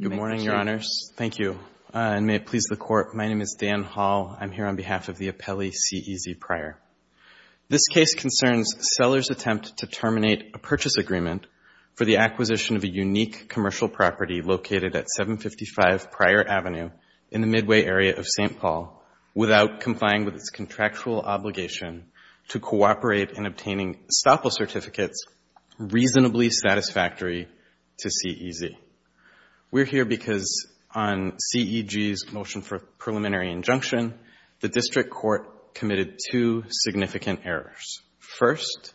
Good morning, Your Honors. Thank you. And may it please the Court, my name is Dan Hall. I'm here on behalf of the appellee CEZ Prior. This case concerns Seller's attempt to terminate a purchase agreement for the acquisition of a unique commercial property located at 755 Prior Avenue in the Midway area of St. Paul without complying with its contractual obligation to cooperate in obtaining STAPL certificates reasonably satisfactory to CEZ. We're here because on CEG's motion for preliminary injunction, the District Court committed two significant errors. First,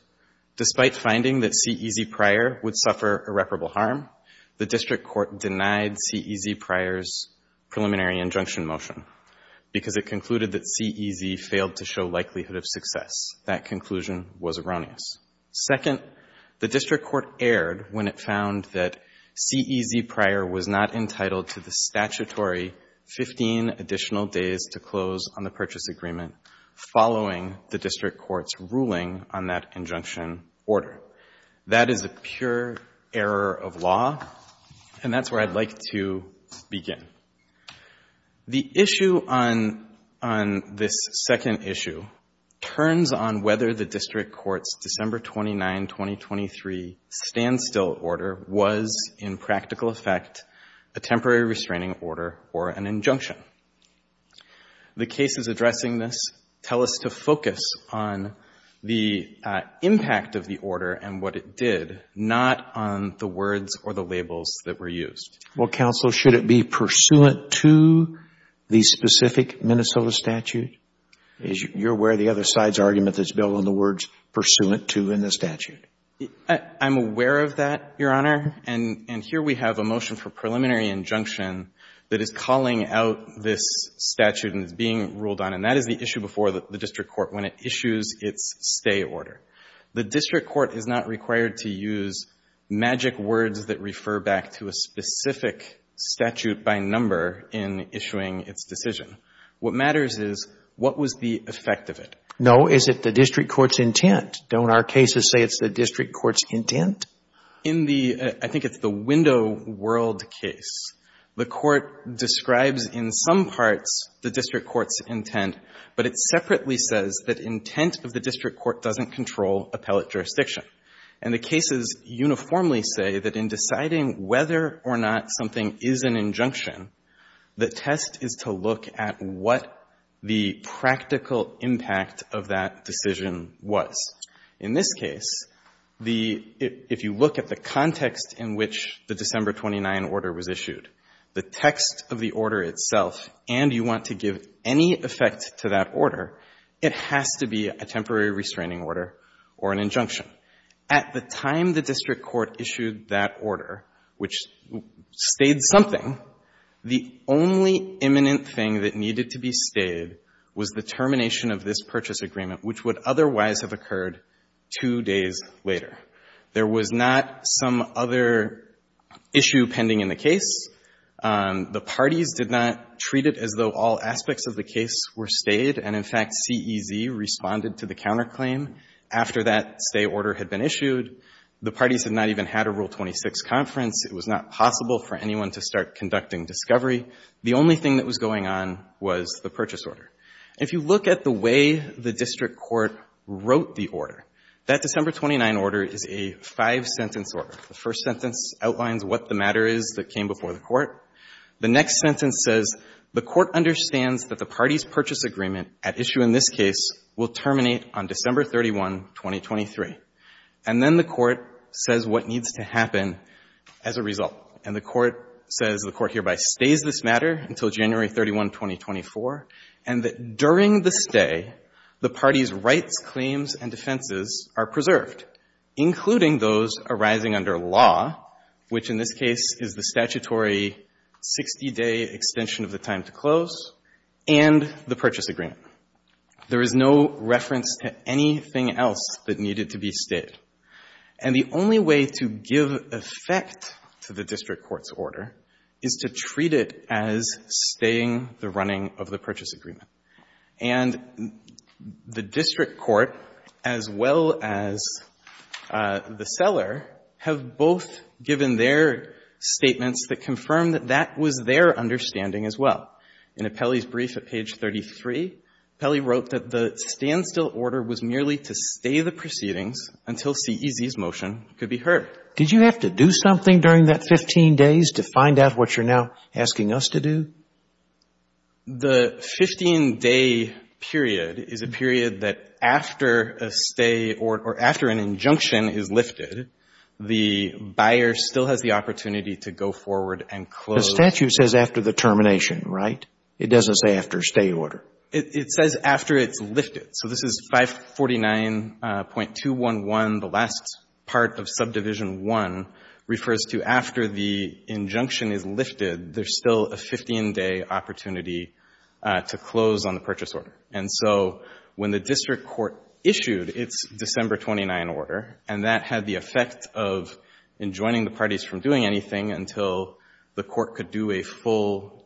despite finding that CEZ Prior would suffer irreparable harm, the District Court denied CEZ Prior's preliminary injunction motion because it concluded that CEZ failed to show likelihood of success. That conclusion was erroneous. Second, the District Court erred when it found that CEZ Prior was not entitled to the statutory 15 additional days to close on the purchase agreement following the District Court's ruling on that injunction order. That is a pure error of law, and that's where I'd like to begin. The issue on this second issue turns on whether the District Court's December 29, 2023, standstill order was in practical effect a temporary restraining order or an injunction. The cases addressing this tell us to focus on the impact of the order and what it did, not on the words or the labels that were used. Well, counsel, should it be pursuant to the specific Minnesota statute? You're aware of the other side's argument that's built on the words pursuant to in the statute? I'm aware of that, Your Honor. And here we have a motion for preliminary injunction that is calling out this statute and is being ruled on. And that is the issue before the District Court when it issues its stay order. The District Court is not required to use magic words that refer back to a specific statute by number in issuing its decision. What matters is what was the effect of it. No. Is it the District Court's intent? Don't our cases say it's the District Court's intent? In the — I think it's the window world case. The Court describes in some parts the District Court's intent, but it separately says that intent of the District Court doesn't control appellate jurisdiction. And the cases uniformly say that in deciding whether or not something is an injunction, the test is to look at what the practical impact of that decision was. In this case, the — if you look at the context in which the December 29 order was issued, the text of the order itself, and you want to give any effect to that order, it has to be a temporary restraining order or an injunction. At the time the District Court issued that order, which stayed something, the only imminent thing that needed to be stayed was the termination of this purchase agreement, which would otherwise have occurred two days later. There was not some other issue pending in the case. The parties did not treat it as though all aspects of the case were stayed, and, in fact, CEZ responded to the counterclaim after that stay order had been issued. The parties had not even had a Rule 26 conference. It was not possible for anyone to start conducting discovery. The only thing that was going on was the purchase order. If you look at the way the District Court wrote the order, that December 29 order is a five-sentence order. The first sentence outlines what the matter is that came before the Court. The next sentence says, the Court understands that the parties' purchase agreement at issue in this case will terminate on December 31, 2023. And then the Court says what needs to happen as a result, and the Court says the Court hereby stays this matter until January 31, 2024, and that during the stay, the parties' rights, claims and defenses are preserved, including those arising under law, which in this case is the statutory 60-day extension of the time to close, and the purchase agreement. There is no reference to anything else that needed to be stayed. And the only way to give effect to the District Court's order is to treat it as staying the running of the purchase agreement. And the District Court, as well as the seller, have both given their statements that confirm that that was their understanding as well. In Apelli's brief at page 33, Apelli wrote that the standstill order was merely to stay the proceedings until CEZ's motion could be heard. Did you have to do something during that 15 days to find out what you're now asking us to do? The 15-day period is a period that after a stay or after an injunction is lifted, the buyer still has the opportunity to go forward and close. The statute says after the termination, right? It doesn't say after stay order. It says after it's lifted. So this is 549.211. The last part of subdivision 1 refers to after the injunction is lifted, there's still a 15-day opportunity to close on the purchase order. And so when the District Court issued its December 29 order, and that had the effect of enjoining the parties from doing anything until the court could do a full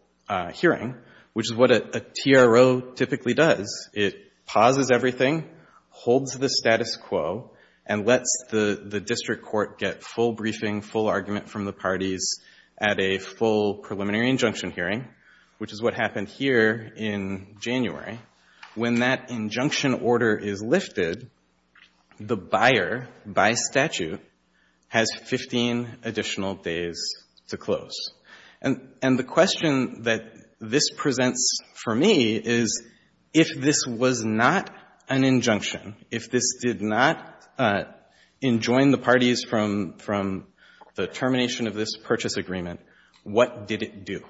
hearing, which is what a TRO typically does. It pauses everything, holds the status quo, and lets the District Court get full briefing, full argument from the parties at a full preliminary injunction hearing, which is what happened here in January. When that injunction order is lifted, the buyer, by statute, has 15 additional days to close. And the question that this presents for me is if this was not an injunction, if this did not enjoin the parties from the termination of this purchase agreement, what did it do?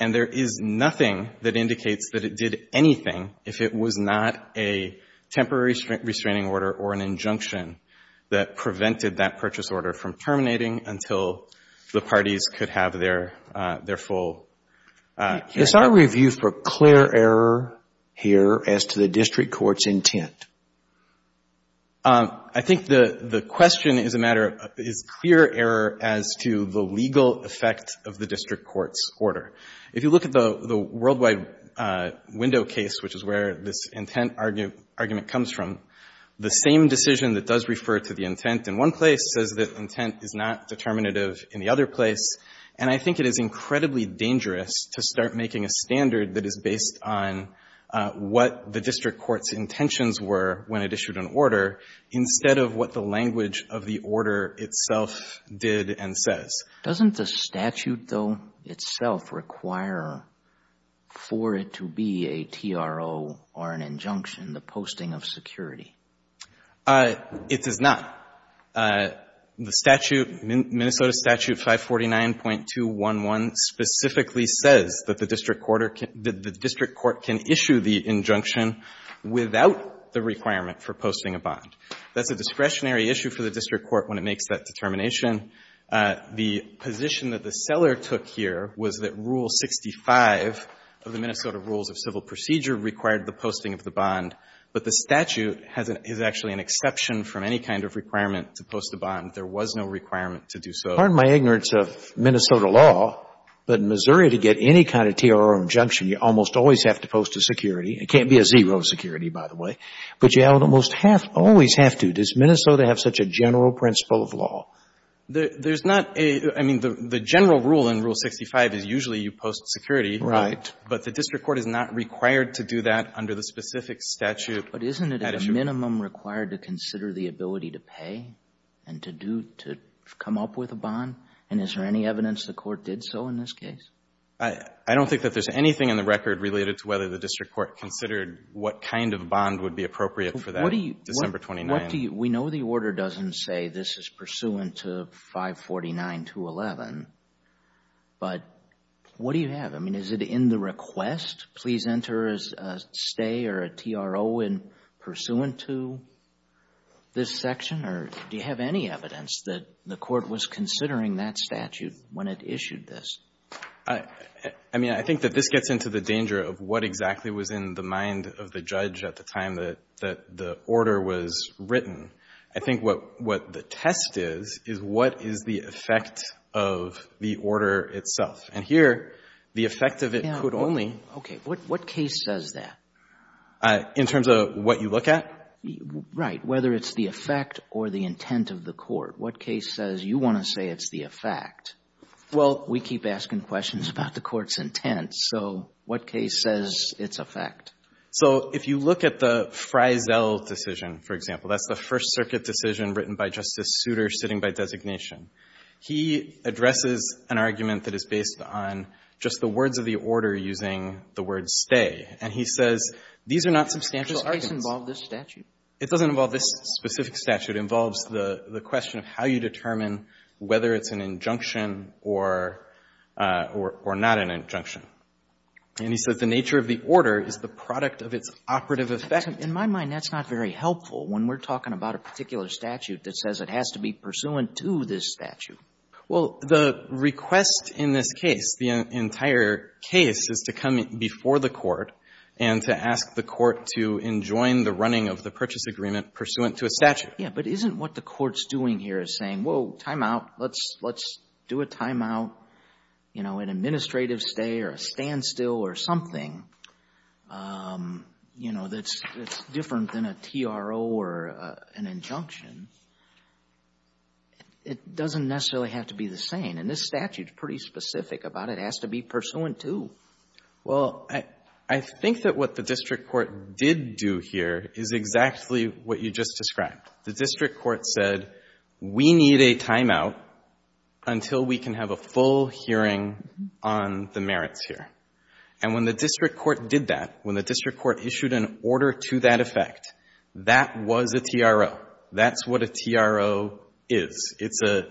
And there is nothing that indicates that it did anything if it was not a temporary restraining order or an injunction that prevented that purchase order from terminating until the parties could have their full hearing. It's our review for clear error here as to the District Court's intent. I think the question is a matter of is clear error as to the legal effect of the District Court's order. If you look at the worldwide window case, which is where this intent argument comes from, the same decision that does refer to the intent in one place says that intent is not determinative in the other place, and I think it is incredibly dangerous to start making a standard that is based on what the District Court's intentions were when it issued an order instead of what the language of the order itself did and says. Doesn't the statute, though, itself require for it to be a TRO or an injunction, the posting of security? It does not. The statute, Minnesota Statute 549.211, specifically says that the District Court can issue the injunction without the requirement for posting a bond. That's a discretionary issue for the District Court when it makes that determination. The position that the seller took here was that Rule 65 of the Minnesota Rules of Civil Procedure required the posting of the bond, but the statute is actually an exception from any kind of requirement to post a bond. There was no requirement to do so. Pardon my ignorance of Minnesota law, but in Missouri to get any kind of TRO or injunction, you almost always have to post a security. It can't be a zero security, by the way. But you almost always have to. Does Minnesota have such a general principle of law? There's not a — I mean, the general rule in Rule 65 is usually you post security. Right. But the District Court is not required to do that under the specific statute. But isn't it at a minimum required to consider the ability to pay and to come up with a bond? And is there any evidence the Court did so in this case? I don't think that there's anything in the record related to whether the District Court considered what kind of bond would be appropriate for that December 29th. We know the order doesn't say this is pursuant to 549.211, but what do you have? I mean, is it in the request? Please enter a stay or a TRO in pursuant to this section? Or do you have any evidence that the Court was considering that statute when it issued this? I mean, I think that this gets into the danger of what exactly was in the mind of the judge at the time that the order was written. I think what the test is, is what is the effect of the order itself? And here, the effect of it could only be. What case says that? In terms of what you look at? Right. Whether it's the effect or the intent of the court. What case says you want to say it's the effect? Well, we keep asking questions about the Court's intent. So what case says it's a fact? So if you look at the Freisel decision, for example, that's the First Circuit decision written by Justice Souter sitting by designation. He addresses an argument that is based on just the words of the order using the word stay. And he says these are not substantial arguments. Does this case involve this statute? It doesn't involve this specific statute. It involves the question of how you determine whether it's an injunction or not an injunction. And he says the nature of the order is the product of its operative effect. In my mind, that's not very helpful when we're talking about a particular statute that says it has to be pursuant to this statute. Well, the request in this case, the entire case, is to come before the Court and to ask the Court to enjoin the running of the purchase agreement pursuant to a statute. Yeah. But isn't what the Court's doing here is saying, whoa, timeout, let's do a timeout, you know, an administrative stay or a standstill or something, you know, that's different than a TRO or an injunction. It doesn't necessarily have to be the same. And this statute is pretty specific about it has to be pursuant to. Well, I think that what the district court did do here is exactly what you just described. The district court said we need a timeout until we can have a full hearing on the merits here. And when the district court did that, when the district court issued an order to that effect, that was a TRO. That's what a TRO is. It's a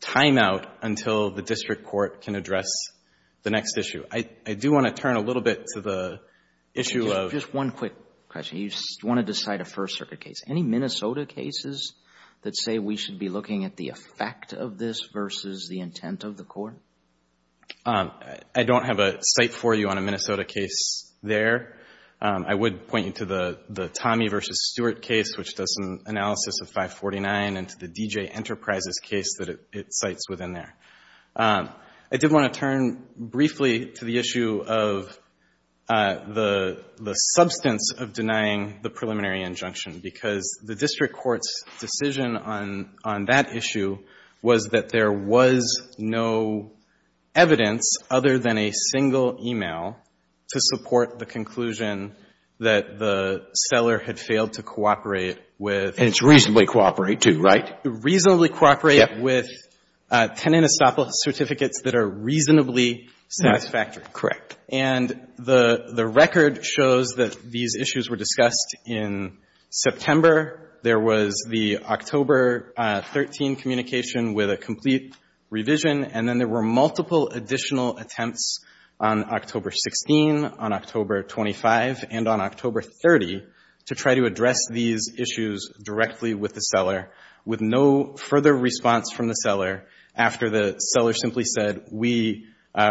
timeout until the district court can address the next issue. I do want to turn a little bit to the issue of — Just one quick question. You want to decide a First Circuit case. Any Minnesota cases that say we should be looking at the effect of this versus the intent of the court? I don't have a cite for you on a Minnesota case there. I would point you to the Tommy v. Stewart case, which does some analysis of 549, and to the DJ Enterprises case that it cites within there. I did want to turn briefly to the issue of the substance of denying the preliminary injunction, because the district court's decision on that issue was that there was no evidence other than a single e-mail to support the conclusion that the seller had failed to cooperate with — And it's reasonably cooperate, too, right? Reasonably cooperate with tenant estoppel certificates that are reasonably satisfactory. Correct. And the record shows that these issues were discussed in September. There was the October 13 communication with a complete revision. And then there were multiple additional attempts on October 16, on October 25, and on October 30 to try to address these issues directly with the seller, with no further response from the seller after the seller simply said, we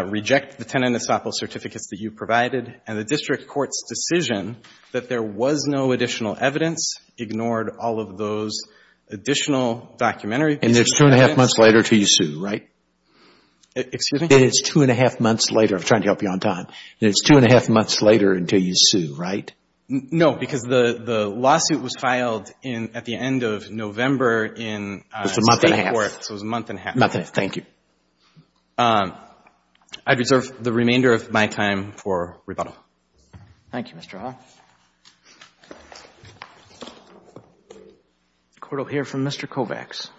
reject the tenant estoppel certificates that you provided. And the district court's decision that there was no additional evidence ignored all of those additional documentary pieces. And it's two and a half months later until you sue, right? Excuse me? It is two and a half months later. I'm trying to help you on time. And it's two and a half months later until you sue, right? No, because the lawsuit was filed at the end of November in — It was a month and a half. So it was a month and a half. Month and a half. Thank you. I reserve the remainder of my time for rebuttal. Thank you, Mr. Hawke. The court will hear from Mr. Kovacs.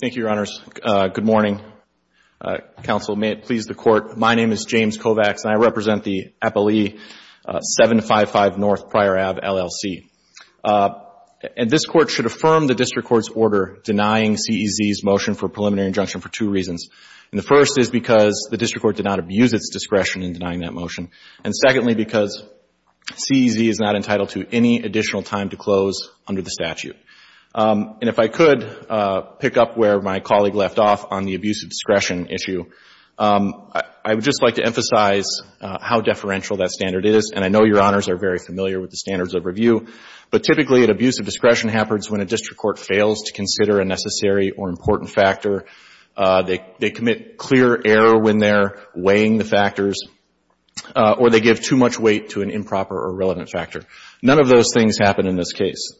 Thank you, Your Honors. Good morning. Counsel, may it please the Court, my name is James Kovacs, and I represent the Appalachee 755 North Pryor Ave, LLC. And this Court should affirm that the defendant, denying CEZ's motion for preliminary injunction for two reasons. And the first is because the district court did not abuse its discretion in denying that motion. And secondly, because CEZ is not entitled to any additional time to close under the statute. And if I could pick up where my colleague left off on the abuse of discretion issue, I would just like to emphasize how deferential that standard is. And I know Your Honors are very familiar with the standards of review. But typically, an abuse of discretion happens when a district court fails to consider a necessary or important factor. They commit clear error when they're weighing the factors, or they give too much weight to an improper or irrelevant factor. None of those things happen in this case.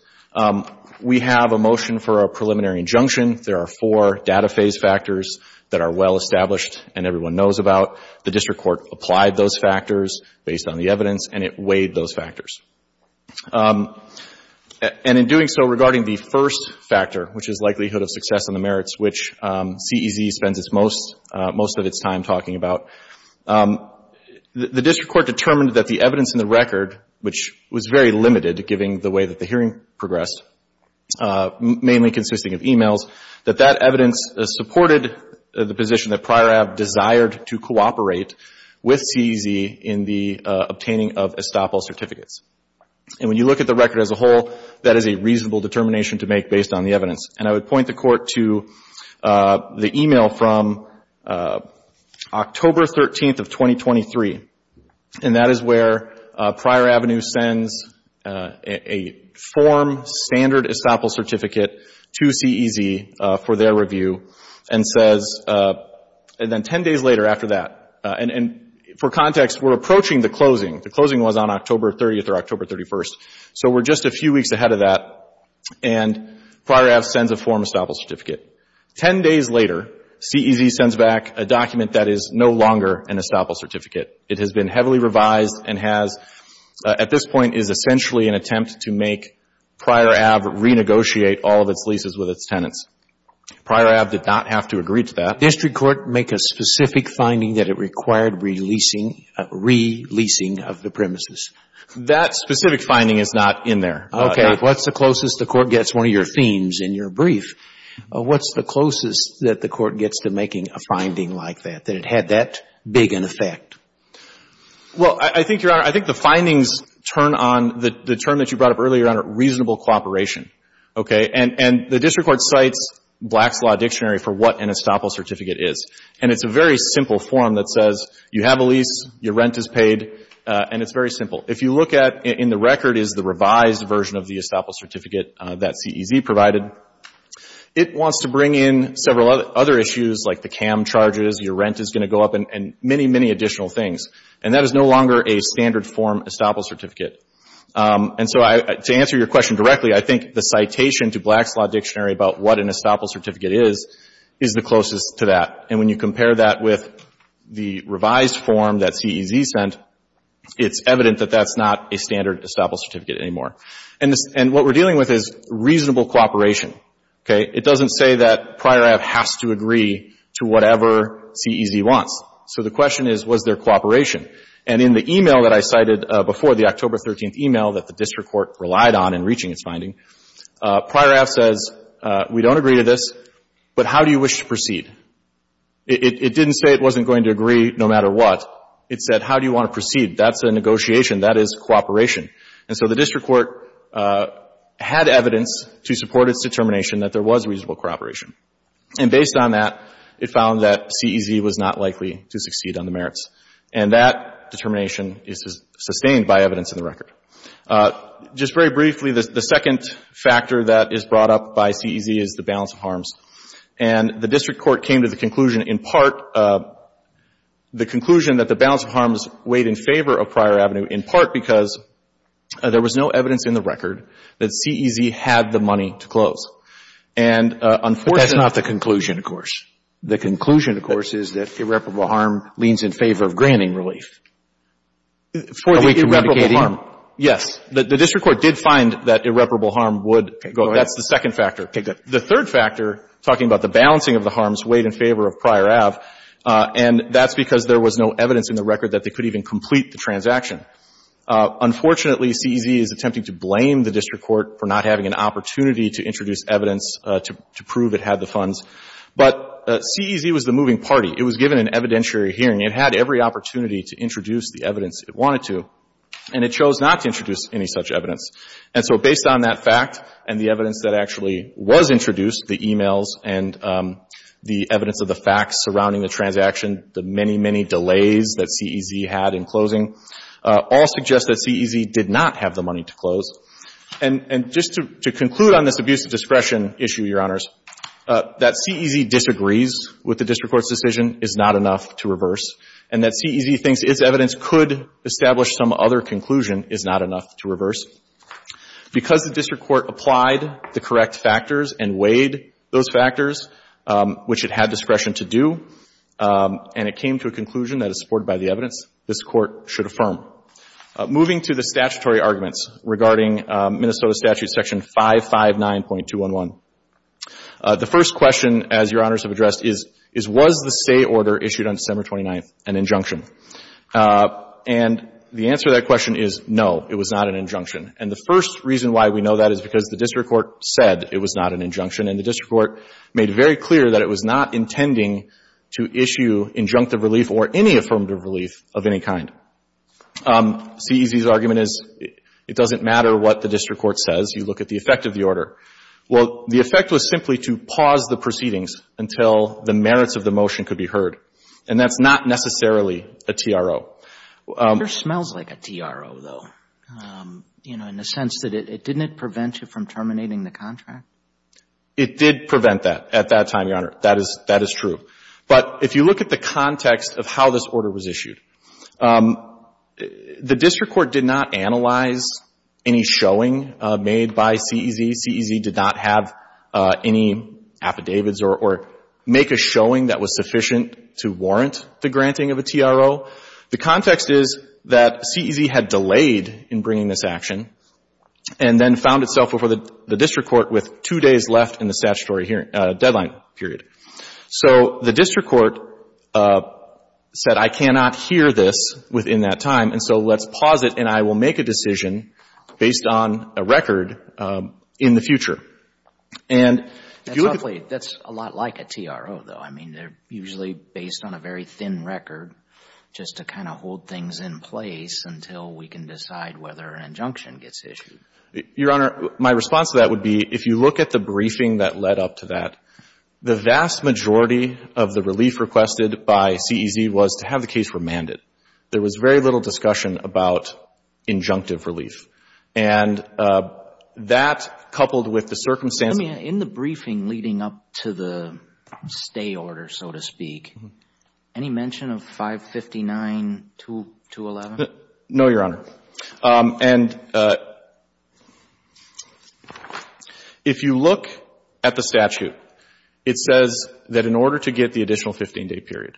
We have a motion for a preliminary injunction. There are four data phase factors that are well established and everyone knows about. The district court applied those factors based on the evidence, and it weighed those factors. And in doing so, regarding the first factor, which is likelihood of success on the merits, which CEZ spends its most of its time talking about, the district court determined that the evidence in the record, which was very limited given the way that the hearing progressed, mainly consisting of e-mails, that that evidence supported the position that Pryor Abb desired to cooperate with CEZ in the obtaining of estoppel certificates. And when you look at the record as a whole, that is a reasonable determination to make based on the evidence. And I would point the court to the e-mail from October 13th of 2023, and that is where Pryor Avenue sends a form standard estoppel certificate to CEZ for their review and says, and then 10 days later after that, and for context, we're approaching the closing. The closing was on October 30th or October 31st, so we're just a few weeks ahead of that, and Pryor Abb sends a form estoppel certificate. Ten days later, CEZ sends back a document that is no longer an estoppel certificate. It has been heavily revised and has, at this point, is essentially an attempt to make Pryor Abb renegotiate all of its leases with its tenants. Pryor Abb did not have to agree to that. The district court make a specific finding that it required releasing, re-leasing of the premises. That specific finding is not in there. Okay. What's the closest the court gets one of your themes in your brief? What's the closest that the court gets to making a finding like that, that it had that big an effect? Well, I think, Your Honor, I think the findings turn on the term that you brought up earlier, reasonable cooperation, okay? And the district court cites Black's Law Dictionary for what an estoppel certificate is, and it's a very simple form that says you have a lease, your rent is paid, and it's very simple. If you look at in the record is the revised version of the estoppel certificate that CEZ provided. It wants to bring in several other issues like the CAM charges, your rent is going to go up, and many, many additional things, and that is no longer a standard form estoppel certificate. And so to answer your question directly, I think the citation to Black's Law Dictionary about what an estoppel certificate is, is the closest to that. And when you compare that with the revised form that CEZ sent, it's evident that that's not a standard estoppel certificate anymore. And what we're dealing with is reasonable cooperation, okay? It doesn't say that Pryor Ave. has to agree to whatever CEZ wants. So the question is, was there cooperation? And in the e-mail that I cited before, the October 13th e-mail that the district court relied on in reaching its finding, Pryor Ave. says, we don't agree to this, but how do you wish to proceed? It didn't say it wasn't going to agree no matter what. It said, how do you want to proceed? That's a negotiation. That is cooperation. And so the district court had evidence to support its determination that there was reasonable cooperation. And based on that, it found that CEZ was not likely to succeed on the merits. And that determination is sustained by evidence in the record. Just very briefly, the second factor that is brought up by CEZ is the balance of harms. And the district court came to the conclusion in part, the conclusion that the balance of harms weighed in favor of Pryor Ave., in part because there was no evidence in the record that CEZ had the money to close. And unfortunately — But that's not the conclusion, of course. The conclusion, of course, is that irreparable harm leans in favor of granting relief. Are we communicating? Yes. The district court did find that irreparable harm would go. That's the second factor. The third factor, talking about the balancing of the harms, weighed in favor of Pryor Ave., and that's because there was no evidence in the record that they could even complete the transaction. Unfortunately, CEZ is attempting to blame the district court for not having an opportunity to introduce evidence to prove it had the funds. But CEZ was the moving party. It was given an evidentiary hearing. It had every opportunity to introduce the evidence it wanted to. And it chose not to introduce any such evidence. And so based on that fact and the evidence that actually was introduced, the e-mails and the evidence of the facts surrounding the transaction, the many, many delays that CEZ had in closing, all suggest that CEZ did not have the money to close. And just to conclude on this abuse of discretion issue, Your Honors, that CEZ disagrees with the district court's decision is not enough to reverse, and that CEZ thinks its evidence could establish some other conclusion is not enough to reverse. Because the district court applied the correct factors and weighed those factors, which it had discretion to do, and it came to a conclusion that is supported by the evidence, this Court should affirm. Moving to the statutory arguments regarding Minnesota Statute Section 559.211. The first question, as Your Honors have addressed, is was the stay order issued on December 29th an injunction? And the answer to that question is no, it was not an injunction. And the first reason why we know that is because the district court said it was not an injunction, and the district court made very clear that it was not intending to issue injunctive relief or any affirmative relief of any kind. CEZ's argument is it doesn't matter what the district court says. You look at the effect of the order. Well, the effect was simply to pause the proceedings until the merits of the motion could be heard. And that's not necessarily a TRO. It sure smells like a TRO, though, you know, in the sense that it didn't prevent you from terminating the contract. It did prevent that at that time, Your Honor. That is true. But if you look at the context of how this order was issued, the district court did not analyze any showing made by CEZ. CEZ did not have any affidavits or make a showing that was sufficient to warrant the granting of a TRO. The context is that CEZ had delayed in bringing this action and then found itself before the district court with two days left in the statutory deadline period. So the district court said, I cannot hear this within that time, and so let's pause it, and I will make a decision based on a record in the future. And if you look at the ---- That's ugly. That's a lot like a TRO, though. I mean, they're usually based on a very thin record just to kind of hold things in place until we can decide whether an injunction gets issued. Your Honor, my response to that would be, if you look at the briefing that led up to that, the vast majority of the relief requested by CEZ was to have the case remanded. There was very little discussion about injunctive relief. And that, coupled with the circumstances ---- In the briefing leading up to the stay order, so to speak, any mention of 559-211? No, Your Honor. And if you look at the statute, it says that in order to get the additional 15-day period,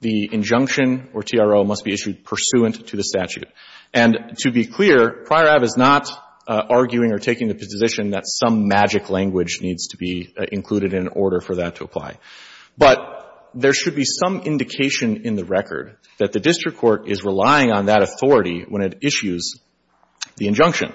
the injunction or TRO must be issued pursuant to the statute. And to be clear, Prior Ave. is not arguing or taking the position that some magic language needs to be included in order for that to apply. But there should be some indication in the record that the district court is relying on that authority when it issues the injunction.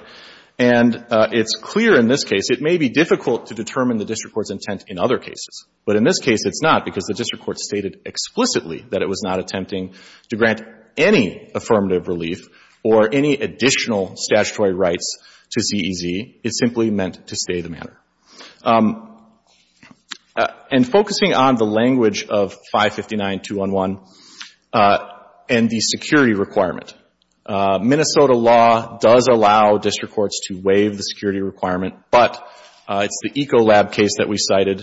And it's clear in this case, it may be difficult to determine the district court's intent in other cases. But in this case, it's not, because the district court stated explicitly that it was not attempting to grant any affirmative relief or any additional statutory rights to CEZ. It simply meant to stay the manner. And focusing on the language of 559-211 and the security requirements, I think that Minnesota law does allow district courts to waive the security requirement, but it's the Ecolab case that we cited,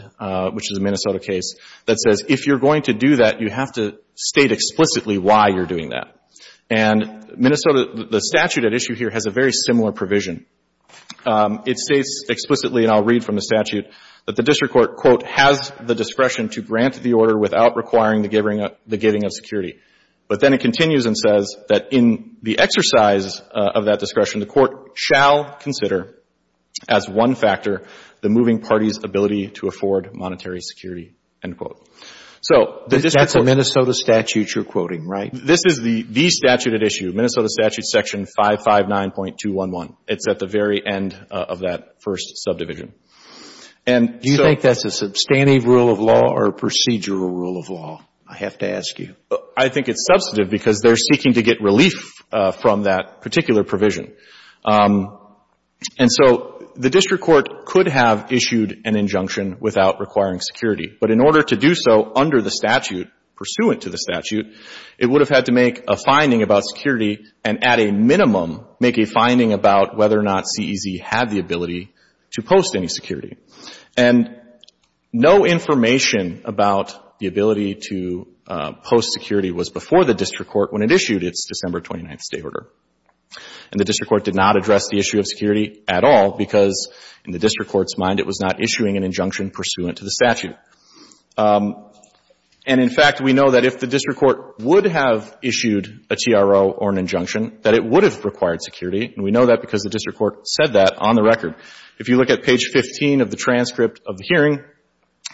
which is a Minnesota case, that says if you're going to do that, you have to state explicitly why you're doing that. And Minnesota, the statute at issue here has a very similar provision. It states explicitly, and I'll read from the statute, that the district court, quote, has the discretion to grant the order without requiring the giving of security. But then it continues and says that in the exercise of that discretion, the court shall consider as one factor the moving party's ability to afford monetary security, end quote. So the district court... That's a Minnesota statute you're quoting, right? This is the statute at issue, Minnesota statute section 559.211. It's at the very end of that first subdivision. Do you think that's a substantive rule of law or a procedural rule of law? I have to ask you. I think it's substantive because they're seeking to get relief from that particular provision. And so the district court could have issued an injunction without requiring security. But in order to do so under the statute, pursuant to the statute, it would have had to make a finding about security and at a minimum make a finding about whether or not CEZ had the ability to post any security. And no information about the ability to post security was before the district court when it issued its December 29th State Order. And the district court did not address the issue of security at all because in the district court's mind it was not issuing an injunction pursuant to the statute. And in fact, we know that if the district court would have issued a TRO or an injunction, that it would have required security. And we know that because the district court said that on the record. If you look at page 15 of the transcript of the hearing,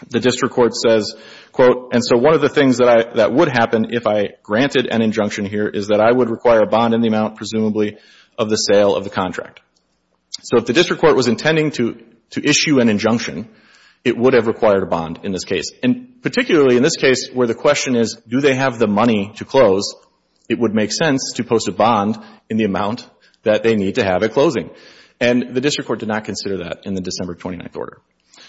the district court says, quote, and so one of the things that would happen if I granted an injunction here is that I would require a bond in the amount presumably of the sale of the contract. So if the district court was intending to issue an injunction, it would have required a bond in this case. And particularly in this case where the question is do they have the money to close, it would make sense to post a bond in the amount that they need to have at closing. And the district court did not consider that in the December 29th Order.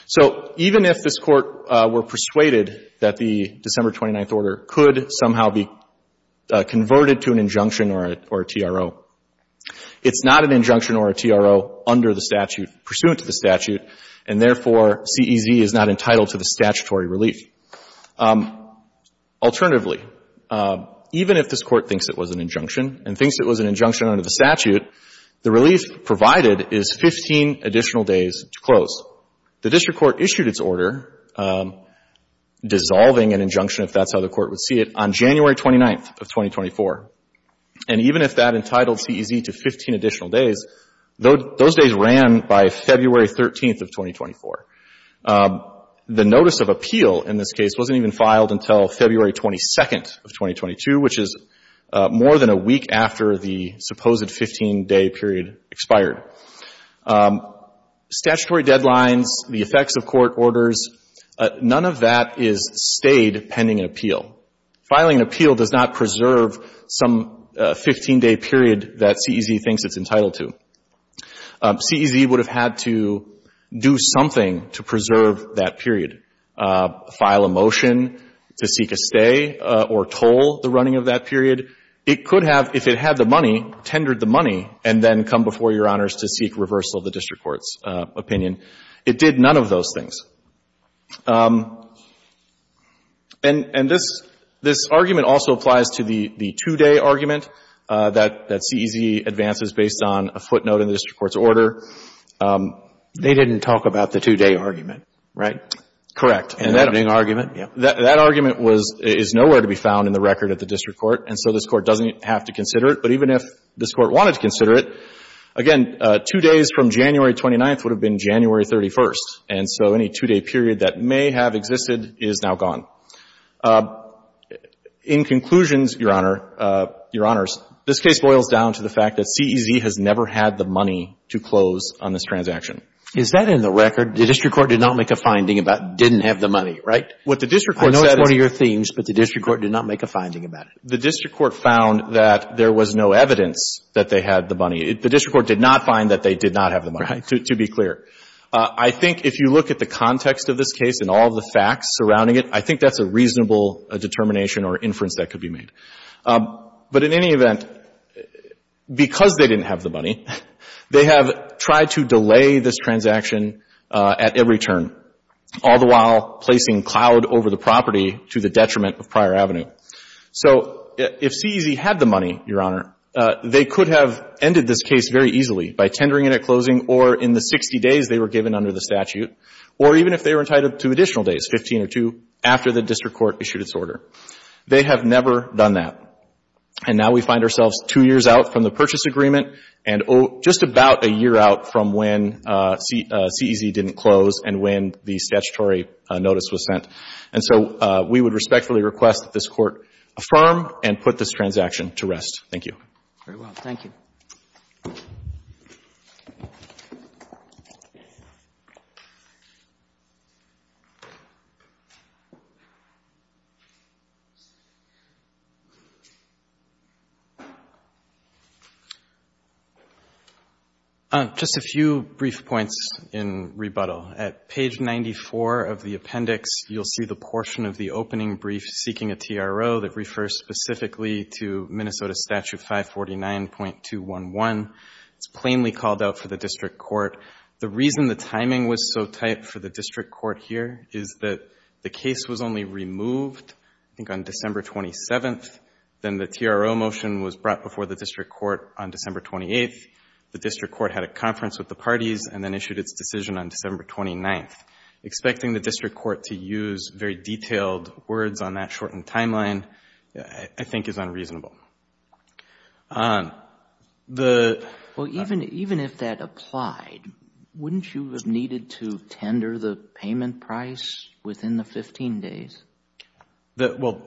So even if this Court were persuaded that the December 29th Order could somehow be converted to an injunction or a TRO, it's not an injunction or a TRO under the statute, pursuant to the statute. And therefore, CEZ is not entitled to the statutory relief. Alternatively, even if this Court thinks it was an injunction and thinks it was an injunction under the statute, the relief provided is 15 additional days to close. The district court issued its order dissolving an injunction, if that's how the court would see it, on January 29th of 2024. And even if that entitled CEZ to 15 additional days, those days ran by February 13th of 2024. The notice of appeal in this case wasn't even filed until February 22nd of 2022, which is more than a week after the supposed 15-day period expired. Statutory deadlines, the effects of court orders, none of that is stayed pending an appeal. Filing an appeal does not preserve some 15-day period that CEZ thinks it's entitled to. CEZ would have had to do something to preserve that period, file a motion to seek a stay or toll the running of that period. It could have, if it had the money, tendered the money and then come before Your Honors to seek reversal of the district court's opinion. It did none of those things. And this argument also applies to the 2-day argument that CEZ advances based on a footnote in the district court's order. They didn't talk about the 2-day argument, right? Correct. And that argument, yeah. That argument is nowhere to be found in the record of the district court, and so this court doesn't have to consider it. But even if this court wanted to consider it, again, 2 days from January 29th would have been January 31st. And so any 2-day period that may have existed is now gone. In conclusions, Your Honor, Your Honors, this case boils down to the fact that CEZ has never had the money to close on this transaction. Is that in the record? The district court did not make a finding about didn't have the money, right? I know it's one of your themes, but the district court did not make a finding about it. The district court found that there was no evidence that they had the money. The district court did not find that they did not have the money, to be clear. Right. I think if you look at the context of this case and all of the facts surrounding it, I think that's a reasonable determination or inference that could be made. But in any event, because they didn't have the money, they have tried to delay this to the detriment of prior avenue. So if CEZ had the money, Your Honor, they could have ended this case very easily by tendering it at closing or in the 60 days they were given under the statute or even if they were entitled to additional days, 15 or 2, after the district court issued its order. They have never done that. And now we find ourselves 2 years out from the purchase agreement and just about a year out from when CEZ didn't close and when the statutory notice was sent. And so we would respectfully request that this Court affirm and put this transaction to rest. Thank you. Very well. Thank you. Just a few brief points in rebuttal. At page 94 of the appendix, you'll see the portion of the opening brief seeking a TRO that refers specifically to Minnesota Statute 549.211. It's plainly called out for the district court. The reason the timing was so tight for the district court here is that the case was only removed, I think, on December 27th. Then the TRO motion was brought before the district court on December 28th. The district court had a conference with the parties and then issued its decision on December 29th. Expecting the district court to use very detailed words on that shortened timeline I think is unreasonable. Well, even if that applied, wouldn't you have needed to tender the payment price within the 15 days? Well,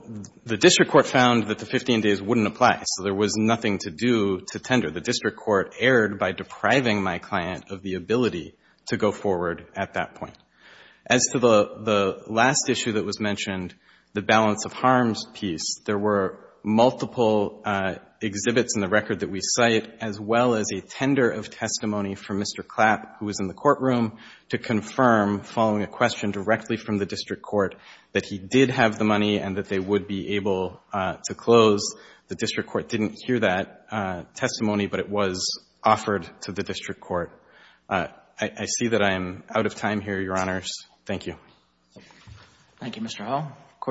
the district court found that the 15 days wouldn't apply, so there was nothing to do to tender. The district court erred by depriving my client of the ability to go forward at that point. As to the last issue that was mentioned, the balance of harms piece, there were multiple exhibits in the record that we cite as well as a tender of testimony from Mr. Clapp, who was in the courtroom, to confirm, following a question directly from the district court, that he did have the money and that they would be able to close. The district court didn't hear that testimony, but it was offered to the district court. I see that I am out of time here, Your Honors. Thank you. Thank you, Mr. Hull.